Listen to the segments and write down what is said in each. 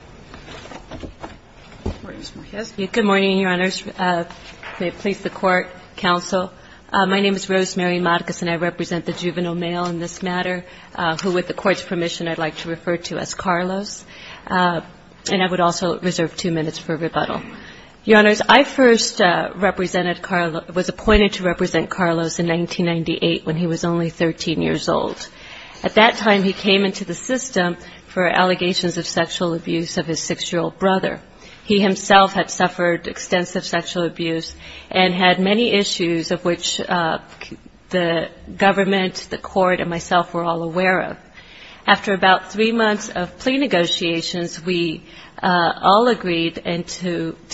ROSE MARY MARCUS Good morning, Your Honors. May it please the Court, Counsel. My name is Rose Mary Marcus and I represent the Juvenile Male in this matter, who with the Court's permission I'd like to refer to as Carlos. And I would also reserve 2 minutes for rebuttal. Your Honors, I first represented Carlos, was appointed to represent Carlos in 1998 when he was only 13 years old. At that time, he came into the abuse of his 6-year-old brother. He himself had suffered extensive sexual abuse and had many issues of which the government, the Court, and myself were all aware of. After about 3 months of plea negotiations, we all agreed to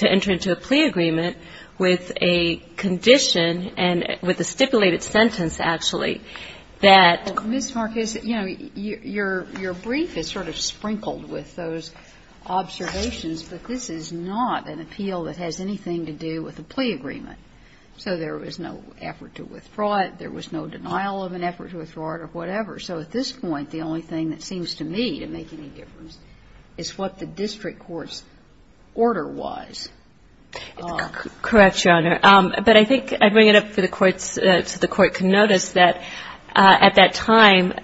enter into a plea agreement with a condition and with a stipulated sentence, actually, that was a plea agreement. So, I would like to ask you, Ms. Marcus, your brief is sort of sprinkled with those observations, but this is not an appeal that has anything to do with a plea agreement. So there was no effort to withdraw it. There was no denial of an effort to withdraw it or whatever. So at this point, the only thing that seems to me to make any difference is what the district court's order was. Correct, Your Honor. But I think I bring it up for the Court's so the Court can notice that at that time,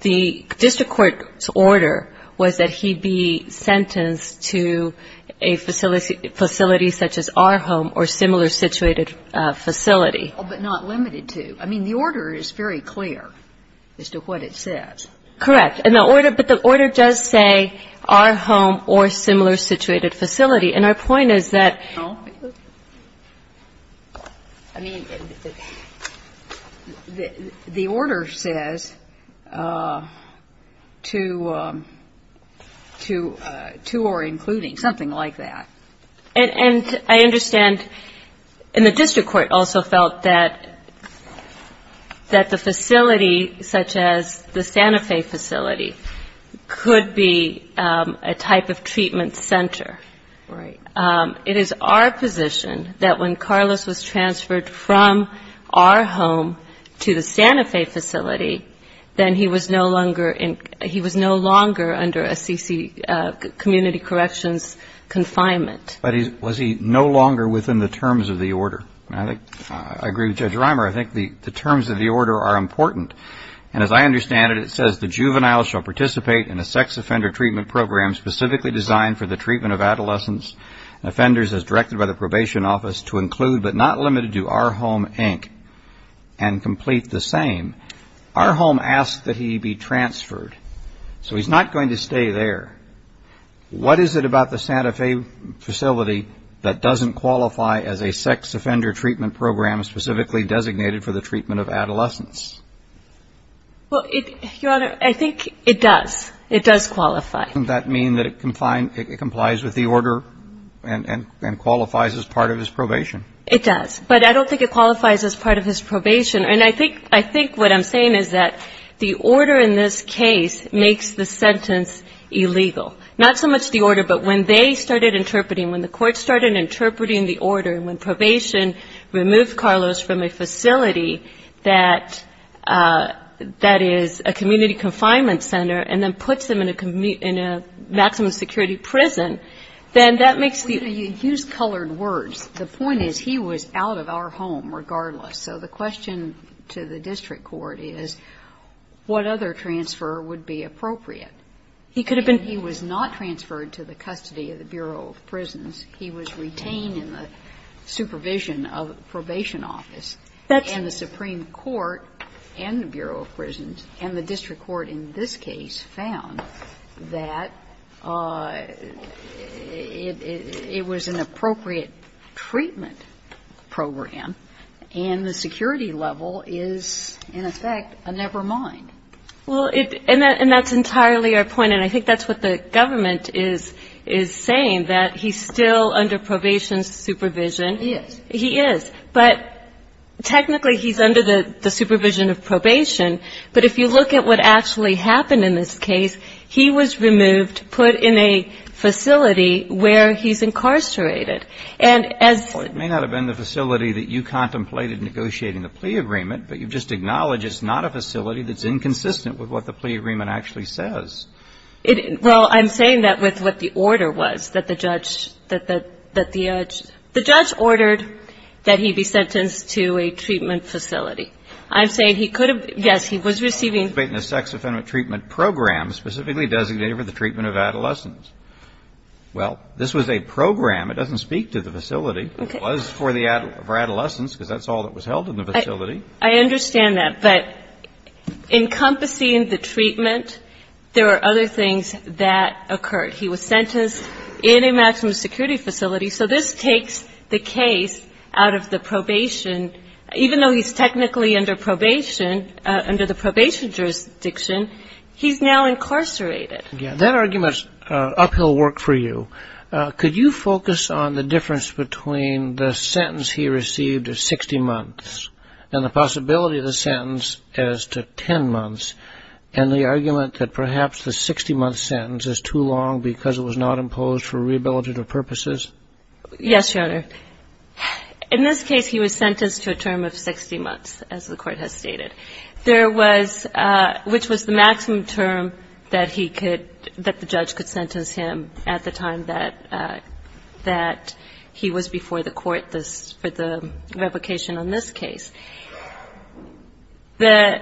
the district court's order was that he be sentenced to a facility such as our home or similar situated facility. But not limited to. I mean, the order is very clear as to what it says. Correct. And the order does say our home or similar situated facility. And our point is that, I mean, the order says to or including, something like that. And I understand, and the district court also felt that the facility such as the Santa Fe facility could be a type of treatment center. Right. It is our position that when Carlos was transferred from our home to the Santa Fe facility, then he was no longer under a CC, community corrections confinement. Was he no longer within the terms of the order? I agree with Judge Reimer. I think the terms of the order are important. And as I understand it, it says the juvenile shall participate in a sex offender treatment program specifically designed for the treatment of adolescents and offenders as directed by the probation office to include, but not limited to, our home, Inc. and complete the same. Our home asked that he be transferred. So he's not going to stay there. What is it about the Santa Fe facility that doesn't qualify as a sex offender treatment program specifically designated for the treatment of adolescents? Well, Your Honor, I think it does. It does qualify. Doesn't that mean that it complies with the order and qualifies as part of his probation? It does. But I don't think it qualifies as part of his probation. And I think what I'm saying is that the order in this case makes the sentence illegal. Not so much the order, but when they started interpreting, when the court started interpreting the order, and when probation removed Carlos from a facility that is a community confinement center and then puts him in a maximum security prison, then that makes the ---- Well, you use colored words. The point is he was out of our home regardless. So the question to the district court is what other transfer would be appropriate? He could have been ---- Well, the district court is in the supervision of probation office. That's ---- And the Supreme Court and the Bureau of Prisons and the district court in this case found that it was an appropriate treatment program. And the security level is, in effect, a nevermind. Well, it ---- and that's entirely our point. And I think that's what the government is saying, that he's still under probation supervision. He is. But technically he's under the supervision of probation. But if you look at what actually happened in this case, he was removed, put in a facility where he's incarcerated. And as ---- Well, it may not have been the facility that you contemplated negotiating the plea agreement, but you've just acknowledged it's not a facility that's inconsistent with what the plea agreement actually says. Well, I'm saying that with what the order was, that the judge ---- that the ---- the judge ordered that he be sentenced to a treatment facility. I'm saying he could have ---- yes, he was receiving ---- A sex-offendant treatment program specifically designated for the treatment of adolescents. Well, this was a program. It doesn't speak to the facility. It was for adolescents, because that's all that was held in the facility. I understand that. But encompassing the treatment, there are other things that occurred. He was sentenced in a maximum security facility. So this takes the case out of the probation. Even though he's technically under probation, under the probation jurisdiction, he's now incarcerated. Yes. That argument is uphill work for you. Could you focus on the difference between the sentence he received of 60 months and the possibility of the sentence as to 10 months, and the argument that perhaps the 60-month sentence is too long because it was not imposed for rehabilitative purposes? Yes, Your Honor. In this case, he was sentenced to a term of 60 months, as the Court has stated, there was ---- which was the maximum term that he could ---- that he was before the Court for the revocation on this case. The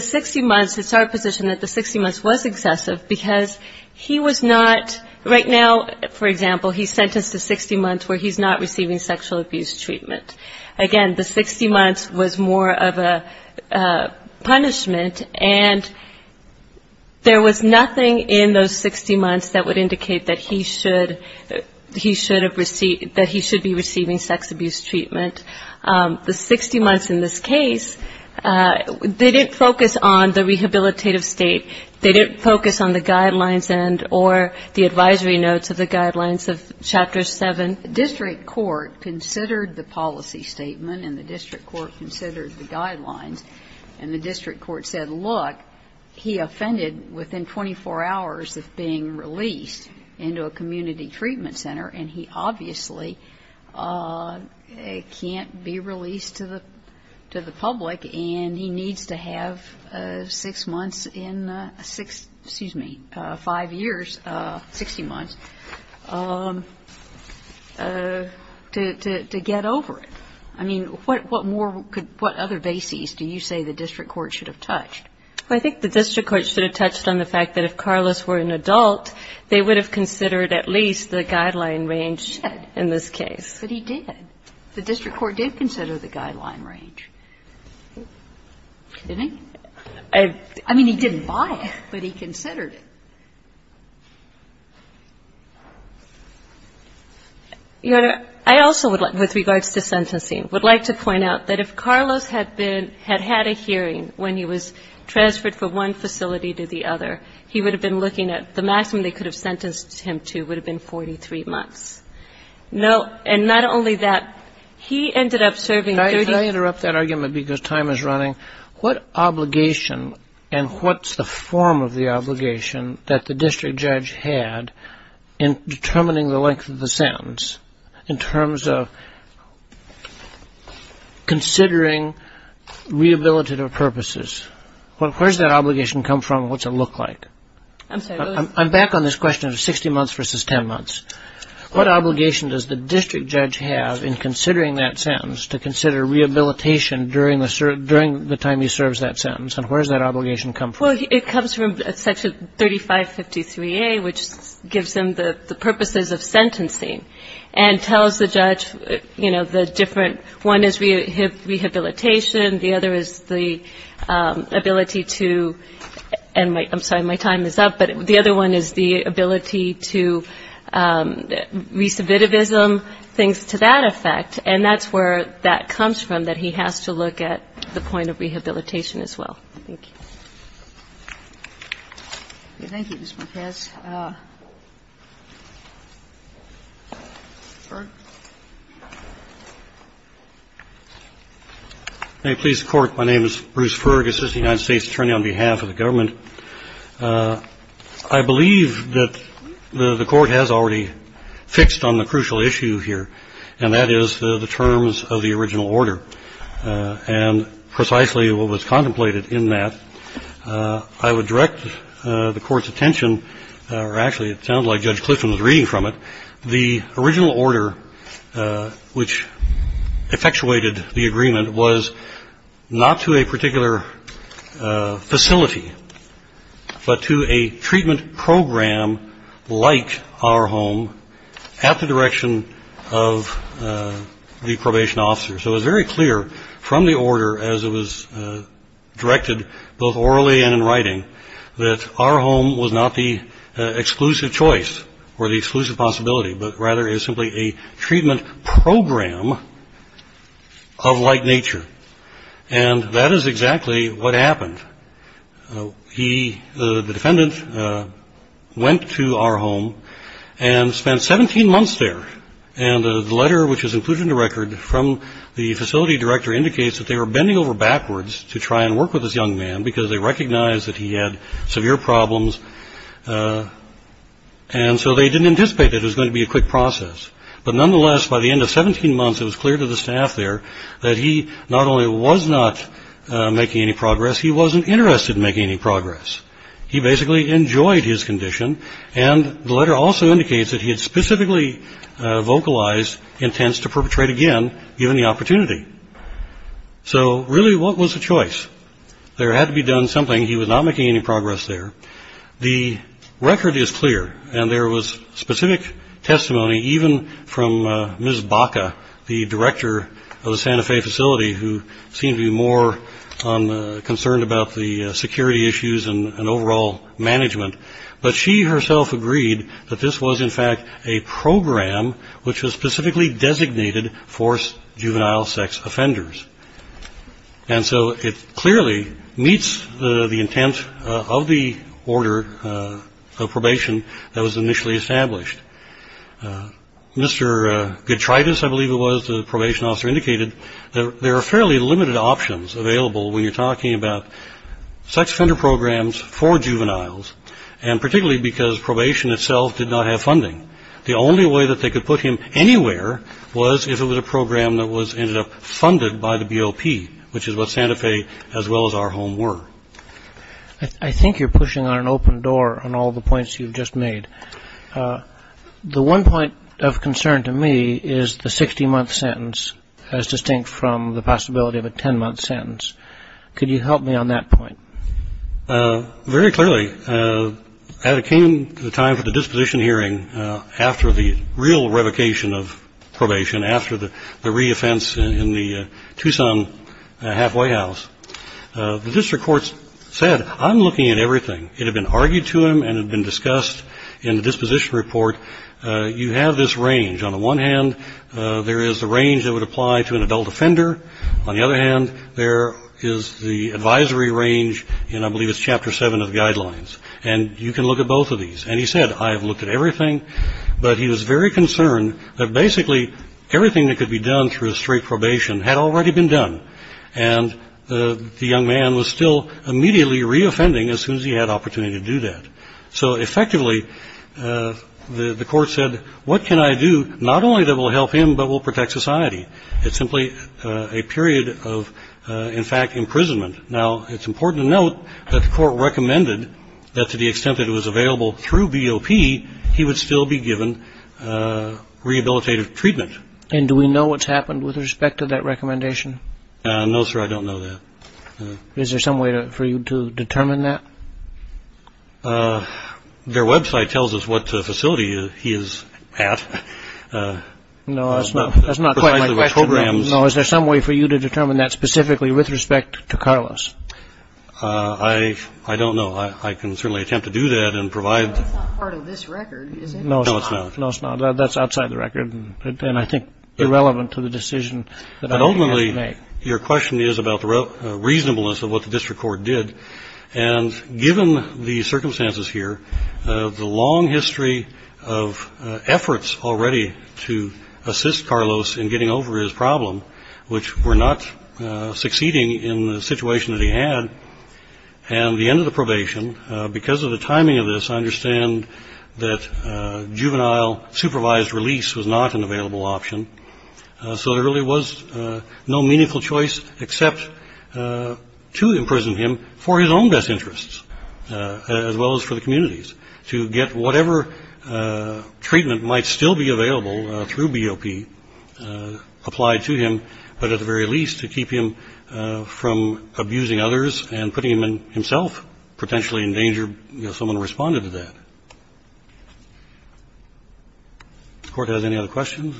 60 months, it's our position that the 60 months was excessive, because he was not ---- right now, for example, he's sentenced to 60 months where he's not receiving sexual abuse treatment. Again, the 60 months was more of a punishment, and there was nothing in those 60 months that would indicate that he should have received ---- that he should be receiving sex abuse treatment. The 60 months in this case, they didn't focus on the rehabilitative state. They didn't focus on the guidelines and or the advisory notes of the guidelines of Chapter 7. The district court considered the policy statement, and the district court considered the guidelines, and the district court said, look, he offended within 24 hours, of being released into a community treatment center, and he obviously can't be released to the public, and he needs to have six months in ---- excuse me, five years, 60 months to get over it. I mean, what more could ---- what other bases do you say the district court should have touched? I think the district court should have touched on the fact that if Carlos were an adult, they would have considered at least the guideline range in this case. But he did. The district court did consider the guideline range. Didn't he? I mean, he didn't buy it, but he considered it. Your Honor, I also would like, with regards to sentencing, would like to point out that if Carlos had been ---- had had a hearing when he was transferred from one facility to the other, he would have been looking at the maximum they could have sentenced him to would have been 43 months. And not only that, he ended up serving 30 months. Could I interrupt that argument, because time is running? What obligation and what's the form of the obligation that the district judge had in considering rehabilitative purposes? Where does that obligation come from and what does it look like? I'm sorry. I'm back on this question of 60 months versus 10 months. What obligation does the district judge have in considering that sentence to consider rehabilitation during the time he serves that sentence, and where does that obligation come from? Well, it comes from Section 3553A, which gives him the purposes of sentencing and tells the judge, you know, the different. One is rehabilitation. The other is the ability to ---- and I'm sorry, my time is up. But the other one is the ability to re-submitivism, things to that effect. And that's where that comes from, that he has to look at the point of rehabilitation as well. Thank you. Thank you, Ms. Marquez. Ferg. May it please the Court, my name is Bruce Ferg, assistant United States attorney on behalf of the government. I believe that the Court has already fixed on the crucial issue here, and that is the terms of the original order. And precisely what was contemplated in that, I would direct the Court's attention or actually it sounds like Judge Clifton was reading from it. The original order which effectuated the agreement was not to a particular facility, but to a treatment program like our home at the direction of the probation officer. So it was very clear from the order as it was directed, both orally and in writing, that our home was not the exclusive choice or the exclusive possibility, but rather is simply a treatment program of like nature. And that is exactly what happened. He, the defendant, went to our home and spent 17 months there. And the letter which was included in the record from the facility director indicates that they were bending over backwards to try and work with this young man because they recognized that he had severe problems. And so they didn't anticipate that it was going to be a quick process. But nonetheless, by the end of 17 months, it was clear to the staff there that he not only was not making any progress, he wasn't interested in making any progress. He basically enjoyed his condition. And the letter also indicates that he had specifically vocalized intents to perpetrate again, given the opportunity. So really, what was the choice? There had to be done something. He was not making any progress there. The record is clear, and there was specific testimony even from Ms. Baca, the director of the Santa Fe facility, who seemed to be more concerned about the security issues and overall management. But she herself agreed that this was, in fact, a program which was specifically designated for juvenile sex offenders. And so it clearly meets the intent of the order of probation that was initially established. Mr. Getridis, I believe it was, the probation officer, indicated that there are fairly limited options available when you're talking about sex offender programs for juveniles. And particularly because probation itself did not have funding. The only way that they could put him anywhere was if it was a program that was ended up funded by the BOP, which is what Santa Fe as well as our home were. I think you're pushing on an open door on all the points you've just made. The one point of concern to me is the 60-month sentence, as distinct from the possibility of a 10-month sentence. Could you help me on that point? Very clearly, at the time of the disposition hearing, after the real revocation of probation, after the re-offense in the Tucson halfway house, the district courts said, I'm looking at everything. It had been argued to them and had been discussed in the disposition report. You have this range. On the one hand, there is the range that would apply to an adult offender. On the other hand, there is the advisory range, and I believe it's Chapter 7 of the guidelines. And you can look at both of these. And he said, I have looked at everything. But he was very concerned that basically everything that could be done through a straight probation had already been done. And the young man was still immediately re-offending as soon as he had opportunity to do that. So effectively, the court said, what can I do not only that will help him but will protect society? It's simply a period of, in fact, imprisonment. Now, it's important to note that the court recommended that to the extent that it was available through BOP, he would still be given rehabilitative treatment. And do we know what's happened with respect to that recommendation? No, sir, I don't know that. Is there some way for you to determine that? Their Web site tells us what facility he is at. No, that's not quite my question. No, is there some way for you to determine that specifically with respect to Carlos? I don't know. I can certainly attempt to do that and provide. That's not part of this record, is it? No, it's not. No, it's not. That's outside the record and I think irrelevant to the decision that I made. But ultimately, your question is about the reasonableness of what the district court did. And given the circumstances here, the long history of efforts already to assist Carlos in getting over his problem, which were not succeeding in the situation that he had and the end of the probation, because of the timing of this, I understand that juvenile supervised release was not an available option. So there really was no meaningful choice except to imprison him for his own best interests, as well as for the community's to get whatever treatment might still be available through BOP applied to him. But at the very least, to keep him from abusing others and putting him himself potentially in danger. Someone responded to that. If the Court has any other questions.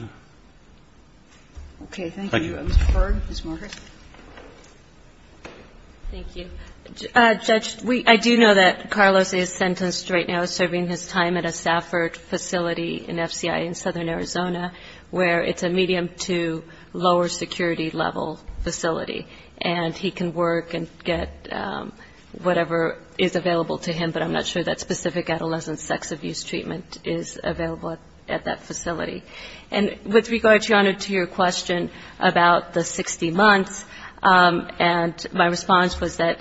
Okay. Thank you. Thank you. Judge, I do know that Carlos is sentenced right now serving his time at a Stafford facility in FCI in southern Arizona where it's a medium to lower security level facility. And he can work and get whatever is available to him, but I'm not sure that specific adolescent sex abuse treatment is available at that facility. And with regard, Your Honor, to your question about the 60 months, and my response was that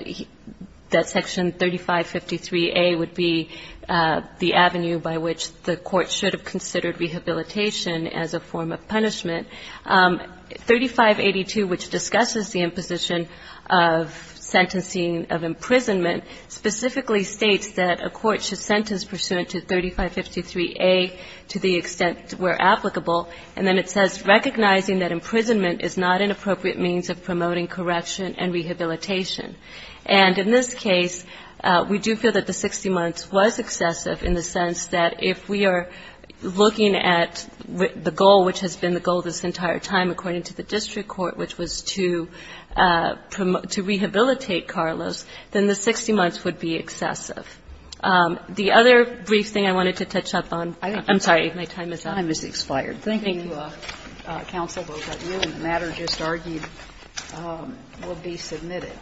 Section 3553A would be the avenue by which the Court should have considered rehabilitation as a form of punishment. 3582, which discusses the imposition of sentencing of imprisonment, specifically states that a court should sentence pursuant to 3553A to the extent where applicable. And then it says, recognizing that imprisonment is not an appropriate means of promoting correction and rehabilitation. And in this case, we do feel that the 60 months was excessive in the sense that if we are looking at the goal, which has been the goal this entire time according to the district court, which was to rehabilitate Carlos, then the 60 months would be excessive. The other brief thing I wanted to touch up on. I'm sorry. My time is up. The time has expired. Thank you, Counsel. The matter just argued will be submitted.